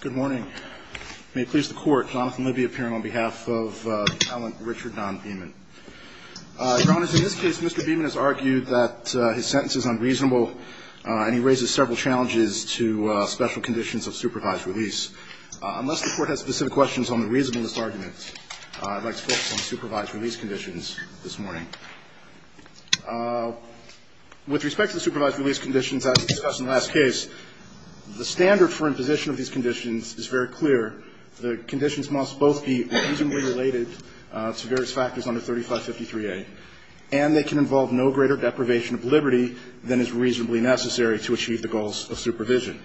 Good morning. May it please the Court, Jonathan Libby appearing on behalf of Alan Richard Don Beeman. Your Honor, in this case, Mr. Beeman has argued that his sentence is unreasonable and he raises several challenges to special conditions of supervised release. Unless the Court has specific questions on the reasonableness argument, I'd like to focus on supervised release conditions this morning. With respect to the supervised release conditions as discussed in the last case, the standard for imposition of these conditions is very clear. The conditions must both be reasonably related to various factors under 3553A, and they can involve no greater deprivation of liberty than is reasonably necessary to achieve the goals of supervision.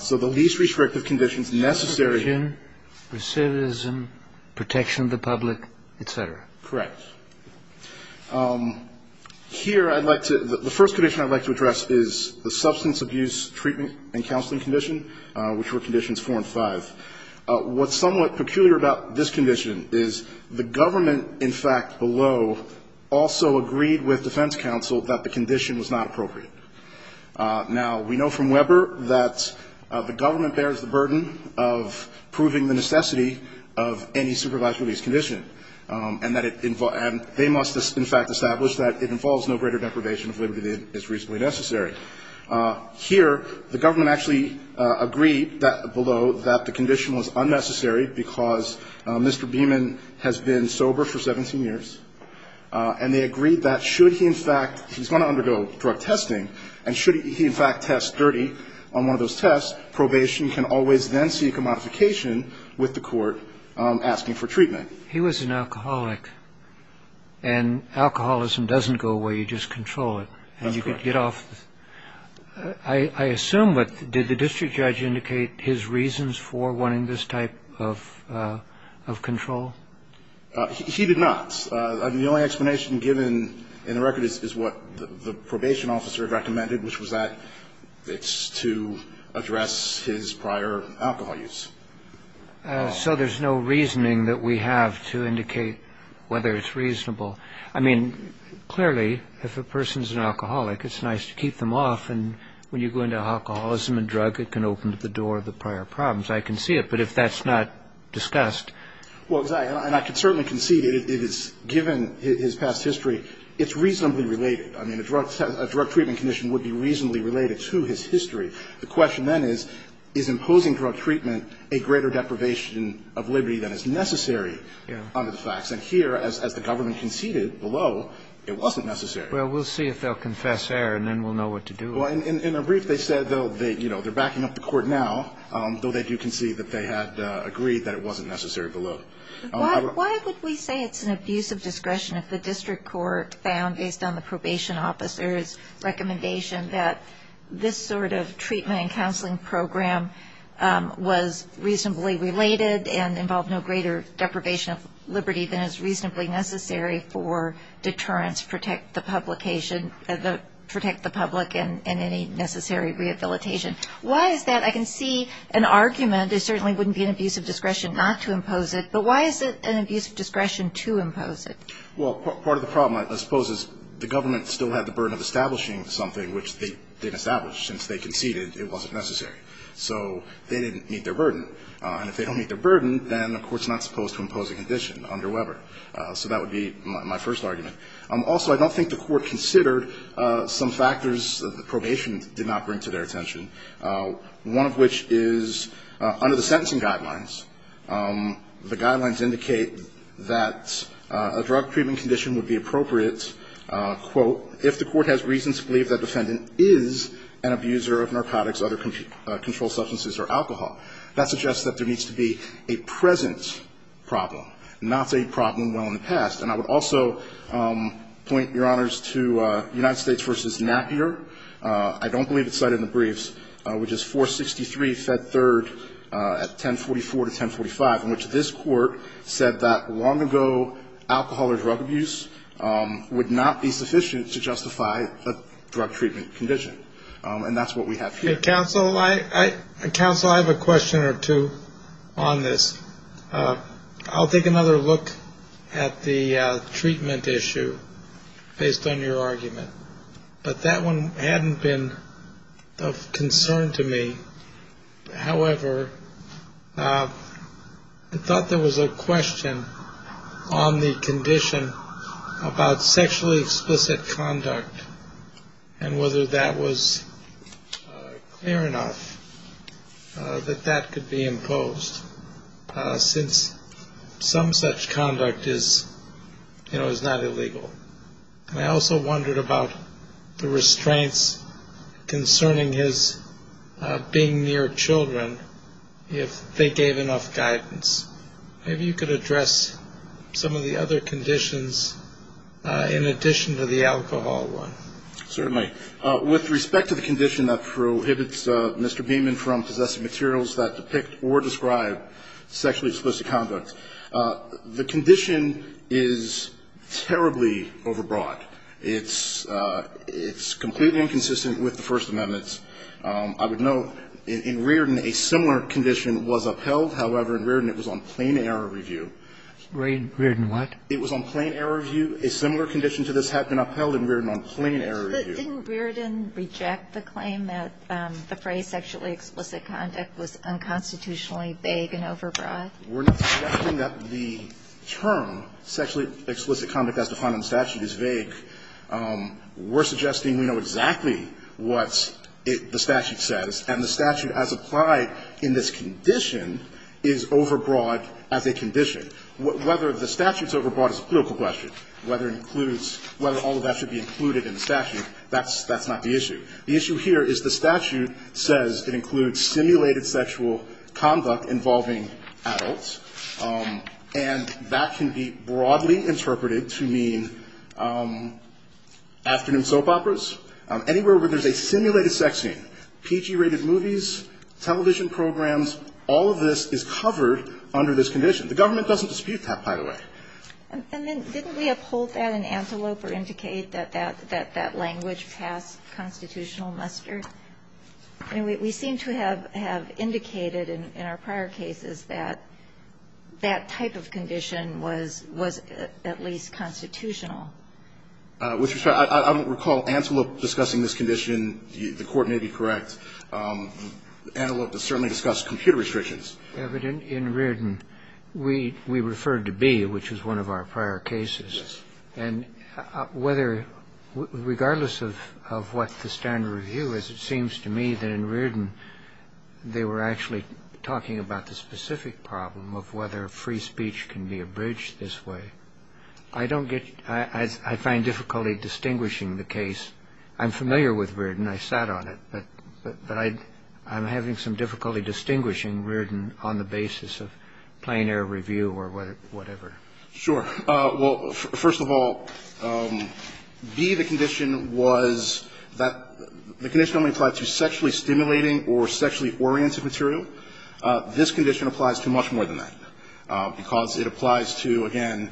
So the least restrictive conditions necessary to Restriction, recidivism, protection of the public, et cetera. Correct. Here I'd like to the first condition I'd like to address is the substance abuse treatment and counseling condition, which were conditions four and five. What's somewhat peculiar about this condition is the government, in fact, below, also agreed with defense counsel that the condition was not appropriate. Now, we know from Weber that the government bears the burden of proving the necessity of any supervised release condition, and that it they must, in fact, establish that it involves no greater deprivation of liberty than is reasonably necessary. Here, the government actually agreed that below that the condition was unnecessary because Mr. Beeman has been sober for 17 years, and they agreed that should he, in fact, he's going to undergo drug testing, and should he, in fact, test dirty on one of those tests, probation can always then seek a modification with the court asking for treatment. He was an alcoholic, and alcoholism doesn't go away. You just control it. That's correct. And you could get off. I assume, but did the district judge indicate his reasons for wanting this type of control? He did not. The only explanation given in the record is what the probation officer recommended, which was that it's to address his prior alcohol use. So there's no reasoning that we have to indicate whether it's reasonable. I mean, clearly, if a person's an alcoholic, it's nice to keep them off. And when you go into alcoholism and drug, it can open the door to the prior problems. I can see it. But if that's not discussed ---- Well, exactly. And I can certainly concede it is, given his past history, it's reasonably related. I mean, a drug treatment condition would be reasonably related to his history. The question then is, is imposing drug treatment a greater deprivation of liberty than is necessary under the facts? And here, as the government conceded below, it wasn't necessary. Well, we'll see if they'll confess error, and then we'll know what to do with it. Well, in a brief, they said they'll, you know, they're backing up the court now, though they do concede that they had agreed that it wasn't necessary below. Why would we say it's an abuse of discretion if the district court found, based on the probation officer's recommendation, that this sort of treatment and counseling program was reasonably related and involved no greater deprivation of liberty than is reasonably necessary for deterrence, protect the public and any necessary rehabilitation? Why is that? I can see an argument there certainly wouldn't be an abuse of discretion not to impose it, but why is it an abuse of discretion to impose it? Well, part of the problem, I suppose, is the government still had the burden of establishing something which they didn't establish. Since they conceded, it wasn't necessary. So they didn't meet their burden. And if they don't meet their burden, then the Court's not supposed to impose a condition under Weber. So that would be my first argument. Also, I don't think the Court considered some factors that the probation did not bring to their attention, one of which is under the sentencing guidelines. The guidelines indicate that a drug treatment condition would be appropriate, quote, if the Court has reason to believe that defendant is an abuser of narcotics, other controlled substances or alcohol. That suggests that there needs to be a present problem, not a problem well in the past. And I would also point, Your Honors, to United States v. Napier. I don't believe it's cited in the briefs, which is 463 Fed 3rd at 1044 to 1045, in which this Court said that long ago alcohol or drug abuse would not be sufficient to justify a drug treatment condition. And that's what we have here. Counsel, I have a question or two on this. I'll take another look at the treatment issue based on your argument. But that one hadn't been of concern to me. However, I thought there was a question on the condition about sexually explicit conduct and whether that was clear enough that that could be imposed since some such conduct is not illegal. And I also wondered about the restraints concerning his being near children, if they gave enough guidance. Maybe you could address some of the other conditions in addition to the alcohol one. Certainly. With respect to the condition that prohibits Mr. Beaman from possessing materials that depict or describe sexually explicit conduct, the condition is terribly overbroad. It's completely inconsistent with the First Amendment. I would note in Riordan a similar condition was upheld. However, in Riordan it was on plain error review. Riordan what? It was on plain error review. A similar condition to this had been upheld in Riordan on plain error review. But didn't Riordan reject the claim that the phrase sexually explicit conduct was unconstitutionally vague and overbroad? We're not suggesting that the term sexually explicit conduct as defined in the statute is vague. We're suggesting we know exactly what the statute says, and the statute as applied in this condition is overbroad as a condition. Whether the statute's overbroad is a political question, whether it includes whether all of that should be included in the statute, that's not the issue. The issue here is the statute says it includes simulated sexual conduct involving adults, and that can be broadly interpreted to mean afternoon soap operas, anywhere where there's a simulated sex scene. PG-rated movies, television programs, all of this is covered under this condition. The government doesn't dispute that, by the way. And then didn't we uphold that in Antelope or indicate that that language passed constitutional muster? I mean, we seem to have indicated in our prior cases that that type of condition was at least constitutional. With respect to that, I don't recall Antelope discussing this condition. The Court may be correct. Antelope has certainly discussed computer restrictions. In Riordan, we referred to Bee, which was one of our prior cases. And whether ñ regardless of what the standard review is, it seems to me that in Riordan they were actually talking about the specific problem of whether free speech can be abridged this way. I don't get ñ I find difficulty distinguishing the case. I'm familiar with Riordan. I sat on it. But I'm having some difficulty distinguishing Riordan on the basis of plain air review or whatever. Sure. Well, first of all, Bee, the condition was that ñ the condition only applied to sexually stimulating or sexually oriented material. This condition applies to much more than that because it applies to, again,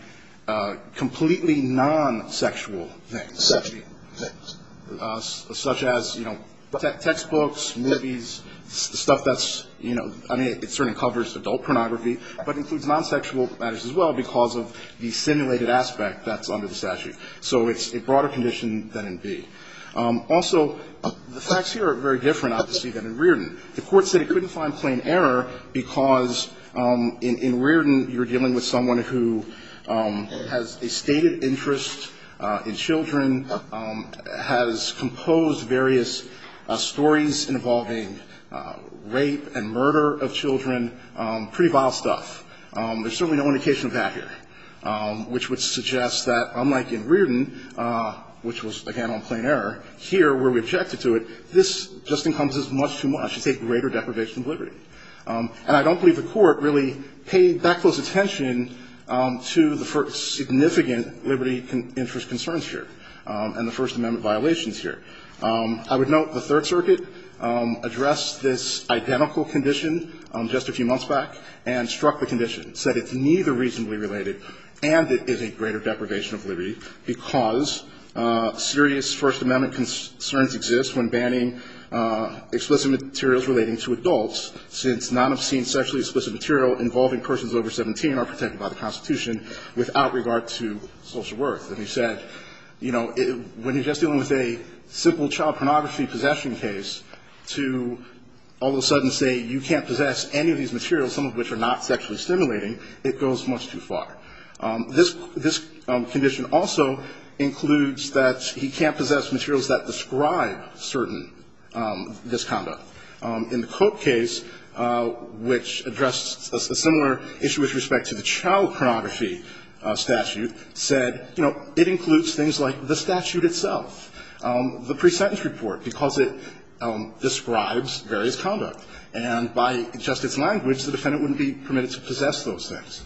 completely non-sexual things. Sexual things. Such as, you know, textbooks, movies, stuff that's, you know ñ I mean, it certainly covers adult pornography, but includes non-sexual matters as well because of the simulated aspect that's under the statute. So it's a broader condition than in Bee. Also, the facts here are very different, obviously, than in Riordan. The Court said it couldn't find plain error because in Riordan you're dealing with someone who has a stated interest in children, has composed various stories involving rape and murder of children, pretty vile stuff. There's certainly no indication of that here, which would suggest that unlike in Riordan, which was, again, on plain error, here where we objected to it, this just encompasses much too much. It's a greater deprivation of liberty. And I don't believe the Court really paid that close attention to the first significant liberty interest concerns here and the First Amendment violations here. I would note the Third Circuit addressed this identical condition just a few months back and struck the condition, said it's neither reasonably related and it is a greater deprivation of liberty because serious First Amendment concerns exist when banning explicit materials relating to adults, since none obscene sexually explicit material involving persons over 17 are protected by the Constitution without regard to social worth. And he said, you know, when you're just dealing with a simple child pornography possession case, to all of a sudden say you can't possess any of these materials, some of which are not sexually stimulating, it goes much too far. This condition also includes that he can't possess materials that describe certain misconduct. In the Cope case, which addressed a similar issue with respect to the child pornography statute, said, you know, it includes things like the statute itself, the pre-sentence report, because it describes various conduct, and by just its language, the defendant wouldn't be permitted to possess those things.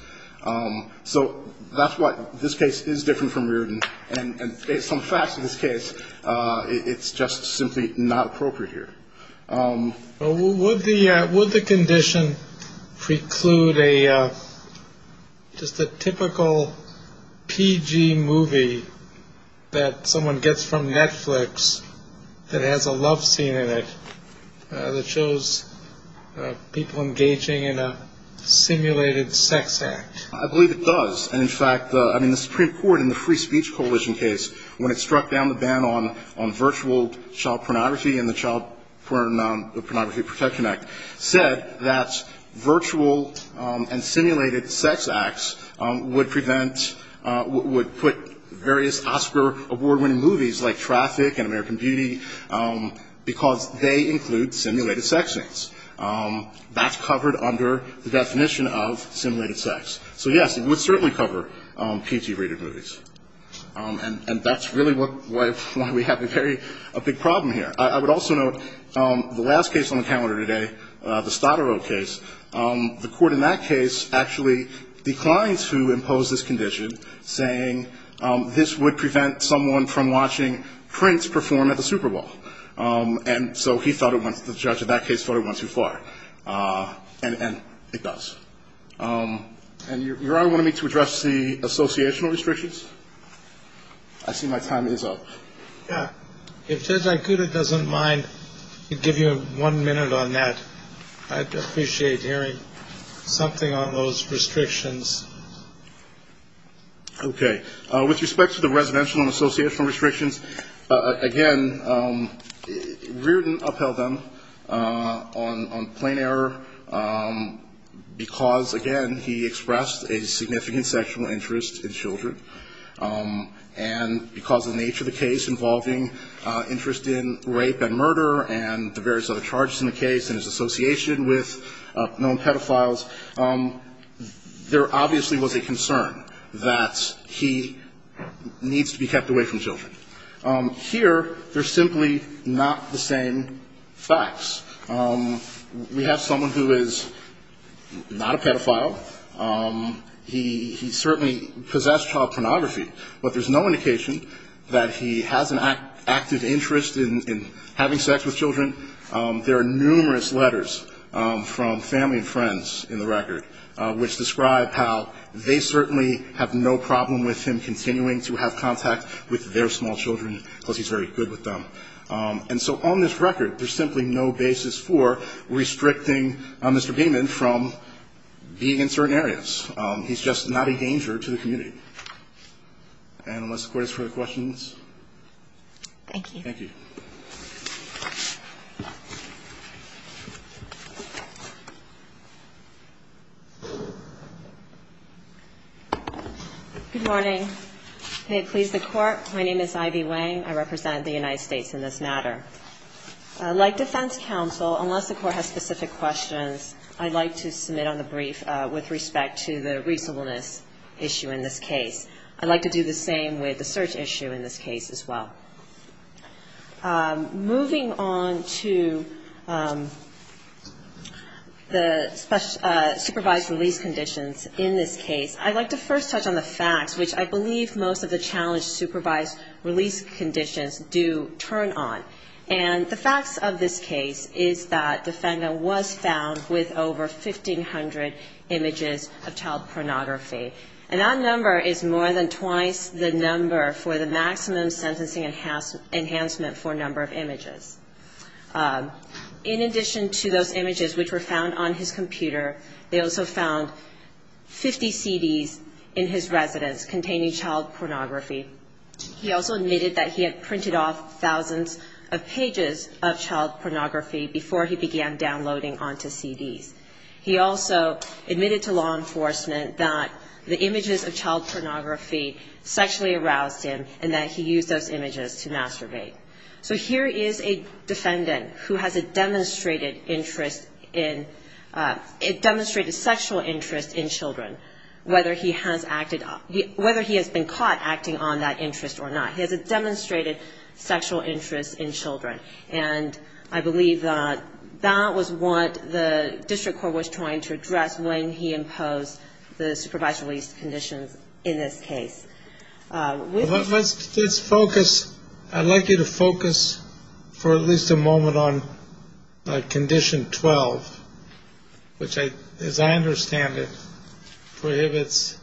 So that's why this case is different from yours. And some facts in this case, it's just simply not appropriate here. Would the condition preclude just a typical PG movie that someone gets from Netflix that has a love scene in it that shows people engaging in a simulated sex act? I believe it does. And, in fact, I mean, the Supreme Court in the Free Speech Coalition case, when it struck down the ban on virtual child pornography and the Child Pornography Protection Act, said that virtual and simulated sex acts would prevent, would put various Oscar award-winning movies like Traffic and American Beauty, because they include simulated sex acts. That's covered under the definition of simulated sex. So, yes, it would certainly cover PG-rated movies. And that's really why we have a very big problem here. I would also note the last case on the calendar today, the Stottero case, the court in that case actually declined to impose this condition, saying this would prevent someone from watching Prince perform at the Super Bowl. And so he thought it went, the judge in that case thought it went too far. And it does. And, Your Honor, do you want me to address the associational restrictions? I see my time is up. Yeah. If Judge Aikuda doesn't mind, he'd give you one minute on that. I'd appreciate hearing something on those restrictions. Okay. With respect to the residential and associational restrictions, again, Reardon upheld them on plain error because, again, he expressed a significant sexual interest in children. And because of the nature of the case involving interest in rape and murder and the various other charges in the case and his association with known pedophiles, there obviously was a concern that he, he needs to be kept away from children. Here, they're simply not the same facts. We have someone who is not a pedophile. He certainly possessed child pornography. But there's no indication that he has an active interest in having sex with children. There are numerous letters from family and friends in the record which describe how they certainly have no problem with him continuing to have contact with their small children because he's very good with them. And so on this record, there's simply no basis for restricting Mr. Gaiman from being in certain areas. He's just not a danger to the community. And unless the Court has further questions. Thank you. Thank you. Good morning. May it please the Court. My name is Ivy Wang. I represent the United States in this matter. Like defense counsel, unless the Court has specific questions, I'd like to submit on the brief with respect to the reasonableness issue in this case. I'd like to do the same with the search issue in this case as well. Moving on to the supervised release conditions in this case, I'd like to first touch on the facts, which I believe most of the challenge supervised release conditions do turn on. And the facts of this case is that the defendant was found with over 1,500 images of child pornography. And that number is more than twice the number for the maximum sentencing enhancement for number of images. In addition to those images, which were found on his computer, they also found 50 CDs in his residence containing child pornography. He also admitted that he had printed off thousands of pages of child pornography before he began downloading onto CDs. He also admitted to law enforcement that the images of child pornography sexually aroused him, and that he used those images to masturbate. So here is a defendant who has a demonstrated interest in, a demonstrated sexual interest in children, whether he has acted, whether he has been caught acting on that interest or not. He has a demonstrated sexual interest in children. And I believe that that was what the district court was trying to address when he imposed the supervised release conditions in this case. Let's focus. I'd like you to focus for at least a moment on Condition 12, which, as I understand it, prohibits,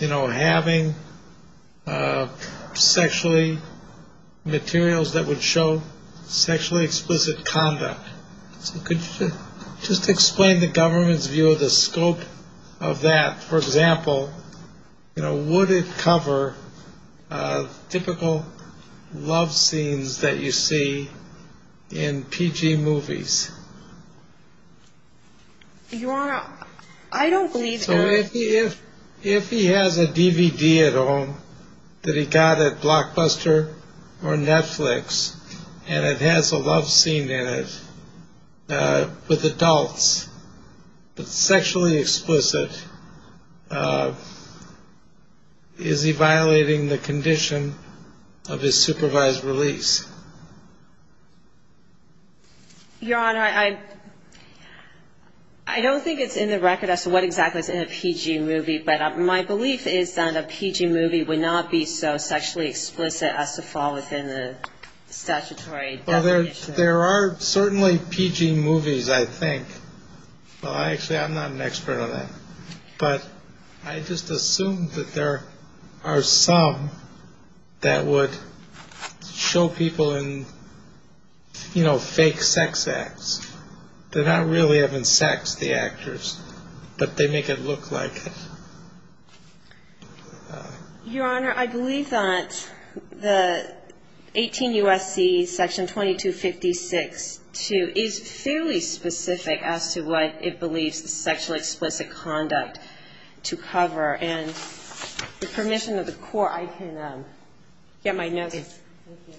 you know, having sexually materials that would show sexually explicit conduct. So could you just explain the government's view of the scope of that? For example, you know, would it cover typical love scenes that you see in PG movies? Your Honor, I don't believe that. So if he has a DVD at home that he got at Blockbuster or Netflix, and it has a love scene in it with adults that's sexually explicit, is he violating the condition of his supervised release? Your Honor, I don't think it's in the record as to what exactly is in a PG movie. But my belief is that a PG movie would not be so sexually explicit as to fall within the statutory definition. Well, there are certainly PG movies, I think. Well, actually, I'm not an expert on that. But I just assume that there are some that would show people in, you know, fake sex acts. They're not really having sex, the actors. But they make it look like it. Your Honor, I believe that the 18 U.S.C. section 2256-2 is fairly specific as to what it believes the sexually explicit conduct to cover. And with permission of the court, I can get my notes. Thank you.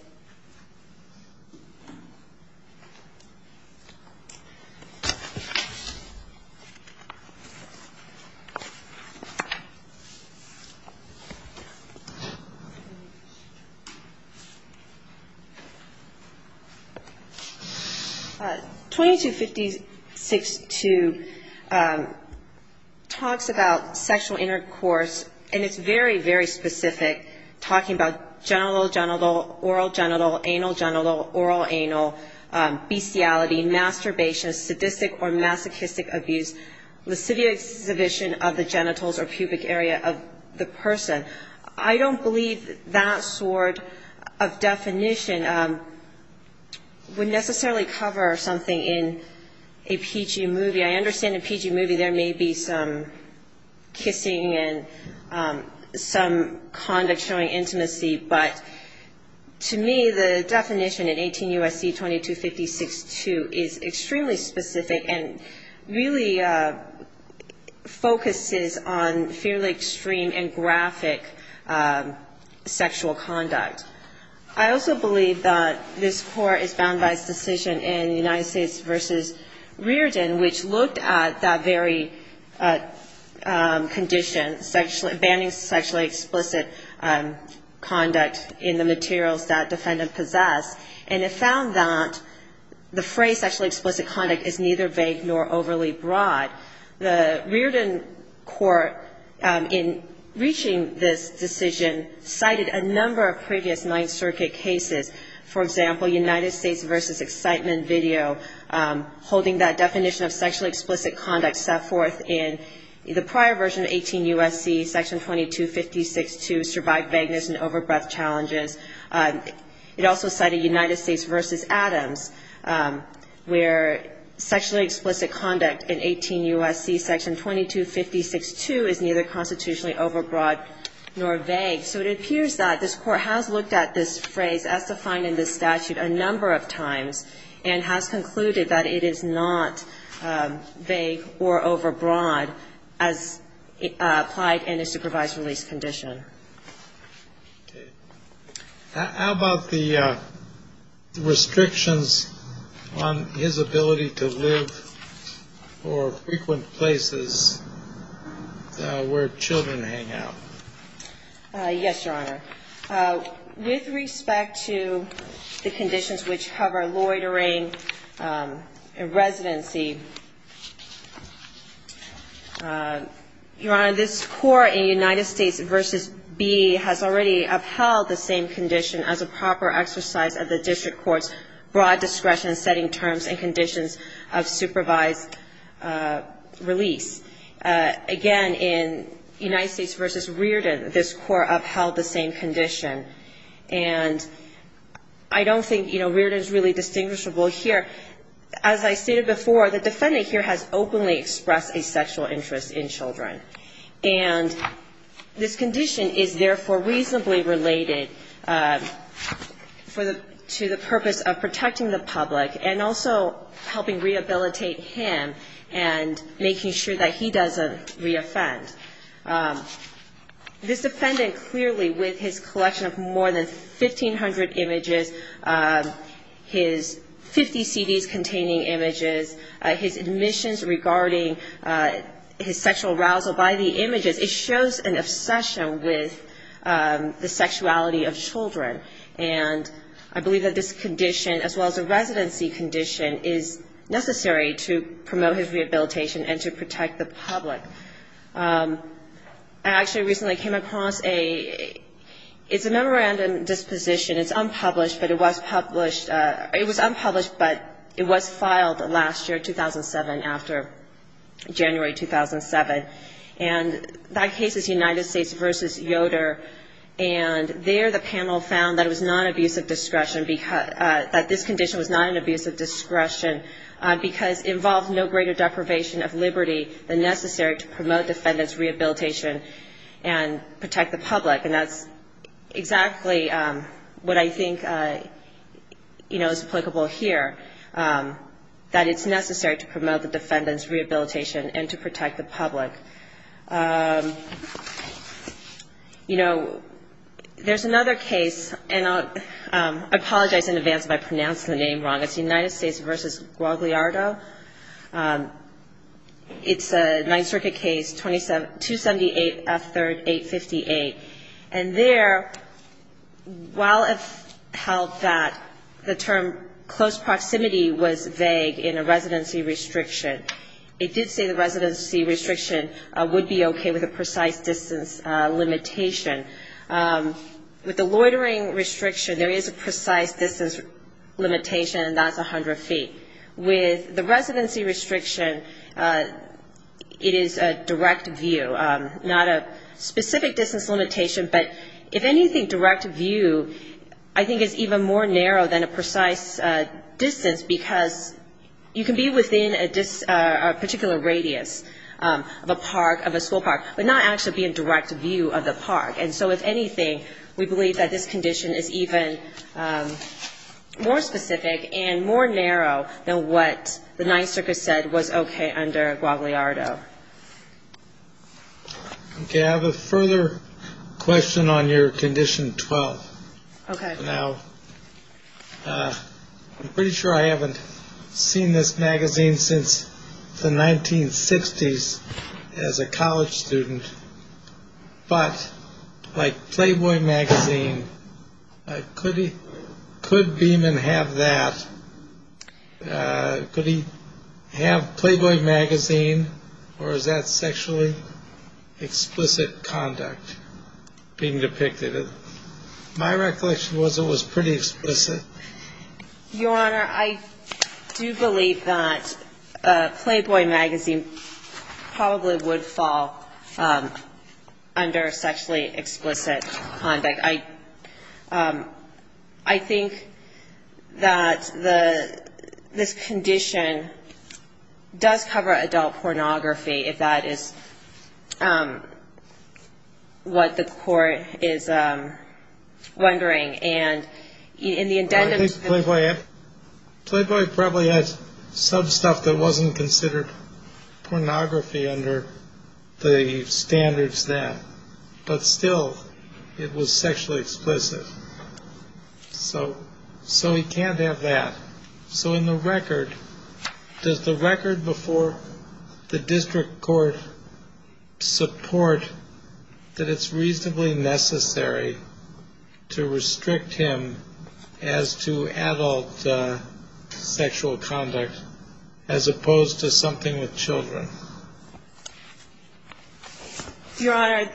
2256-2 talks about sexual intercourse, and it's very, very specific, talking about genital, genital, oral, genital, sexual intercourse. oral, anal, bestiality, masturbation, sadistic or masochistic abuse, lascivious exhibition of the genitals or pubic area of the person. I don't believe that sort of definition would necessarily cover something in a PG movie. I understand in a PG movie there may be some kissing and some conduct showing intimacy. But to me, the definition in 18 U.S.C. 2256-2 is extremely specific and really focuses on fairly extreme and graphic sexual conduct. I also believe that this Court is bound by its decision in United States v. Rearden, which looked at that very condition, banning sexually explicit conduct in the materials that defendant possessed. And it found that the phrase sexually explicit conduct is neither vague nor overly broad. The Rearden court, in reaching this decision, cited a number of previous Ninth Circuit cases. For example, United States v. Excitement video, holding that definition of sexually explicit conduct set forth in the prior version of 18 U.S.C., Section 2256-2, Survived Vagueness and Overbreath Challenges. It also cited United States v. Adams, where sexually explicit conduct in 18 U.S.C. Section 2256-2 is neither constitutionally overbroad nor vague. So it appears that this Court has looked at this phrase as defined in this statute a number of times and has concluded that it is not vague or overbroad as applied in a supervised release condition. How about the restrictions on his ability to live or frequent places where children hang out? Yes, Your Honor. With respect to the conditions which cover loitering and residency, Your Honor, this Court in United States v. Bea has already upheld the same condition as a proper exercise of the district court's broad discretion setting terms and conditions of supervised release. Again, in United States v. Rearden, this Court upheld the same condition. And I don't think, you know, Rearden is really distinguishable here. As I stated before, the defendant here has openly expressed a sexual interest in children. And this condition is therefore reasonably related to the purpose of protecting the public and also helping rehabilitate him and making sure that he doesn't reoffend. This defendant clearly, with his collection of more than 1,500 images, his 50 CDs containing images, his admissions regarding his sexual arousal by the images, it shows an obsession with the sexuality of children. And I believe that this condition, as well as a residency condition, is necessary to promote his rehabilitation and to protect the public. I actually recently came across a, it's a memorandum disposition. It's unpublished, but it was published, it was unpublished, but it was filed last year, 2007, after January 2007. And that case is United States v. Yoder. And there the panel found that it was non-abusive discretion, that this condition was non-abusive discretion because it involved no greater deprivation of liberty than necessary to promote the defendant's rehabilitation and protect the public. And that's exactly what I think, you know, is applicable here, that it's necessary to promote the defendant's rehabilitation and to protect the public. You know, there's another case, and I apologize in advance if I pronounce the name wrong. It's United States v. Guagliardo. It's a Ninth Circuit case, 278 F. 3rd, 858. And there, while it held that the term close proximity was vague in a residency restriction, it did say the residency restriction would be okay with a precise distance limitation. With the loitering restriction, there is a precise distance limitation, and that's 100 feet. With the residency restriction, it is a direct view, not a specific distance limitation, but if anything, direct view I think is even more narrow than a precise distance because you can be within a particular radius of a park, of a school park, but not actually be in direct view of the park. And so, if anything, we believe that this condition is even more specific and more narrow than what the Ninth Circuit said was okay under Guagliardo. Okay, I have a further question on your Condition 12. Okay. Now, I'm pretty sure I haven't seen this magazine since the 1960s as a college student, but like Playboy magazine, could Beeman have that? Could he have Playboy magazine, or is that sexually explicit conduct being depicted? My recollection was it was pretty explicit. Your Honor, I do believe that Playboy magazine probably would fall under sexually explicit conduct. I think that this condition does cover adult pornography, if that is what the Court is wondering. And in the addendum to the- I think Playboy probably has some stuff that wasn't considered pornography under the standards then, but still, it was sexually explicit. So he can't have that. So in the record, does the record before the district court support that it's reasonably necessary to restrict him as to adult sexual conduct as opposed to something with children? Your Honor,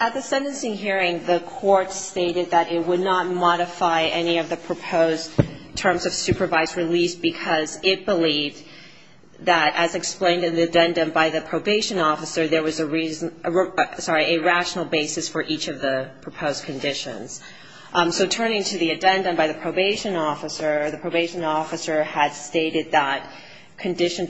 at the sentencing hearing, the Court stated that it would not modify any of the proposed terms of supervised release because it believed that, as explained in the addendum by the probation officer, there was a reason – sorry, a rational basis for each of the proposed conditions. So turning to the addendum by the probation officer, the probation officer had stated that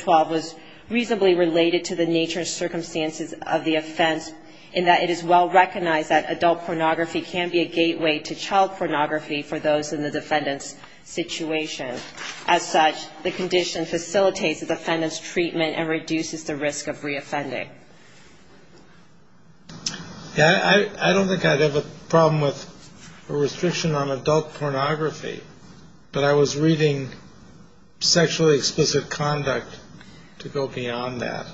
was reasonably related to the nature and circumstances of the offense, in that it is well recognized that adult pornography can be a gateway to child pornography for those in the defendant's situation. As such, the condition facilitates the defendant's treatment and reduces the risk of reoffending. I don't think I'd have a problem with a restriction on adult pornography, but I was reading sexually explicit conduct to go beyond that.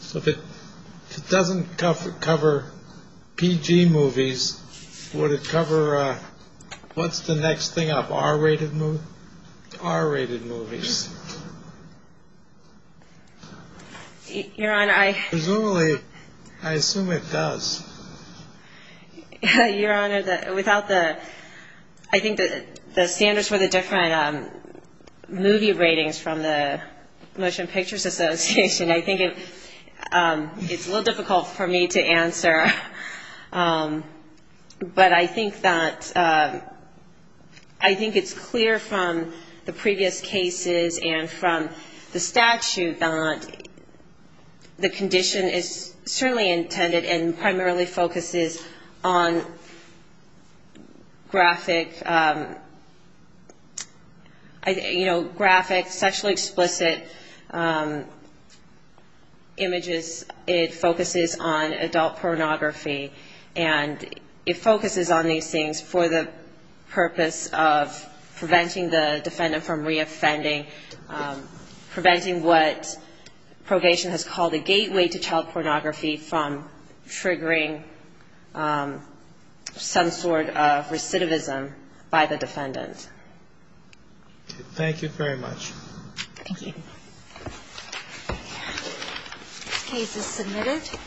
So if it doesn't cover PG movies, would it cover – what's the next thing up, R-rated movies? R-rated movies. Your Honor, I – Presumably, I assume it does. Your Honor, without the – I think the standards for the different movie ratings from the Motion Pictures Association, I think it's a little difficult for me to answer. But I think that – I think it's clear from the previous cases and from the statute that the condition is certainly intended and primarily focuses on graphic, you know, graphic, sexually explicit images. It focuses on adult pornography, and it focuses on these things for the purpose of preventing the defendant from reoffending, preventing what probation has called a gateway to child pornography from triggering some sort of recidivism by the defendant. Thank you very much. Thank you. This case is submitted.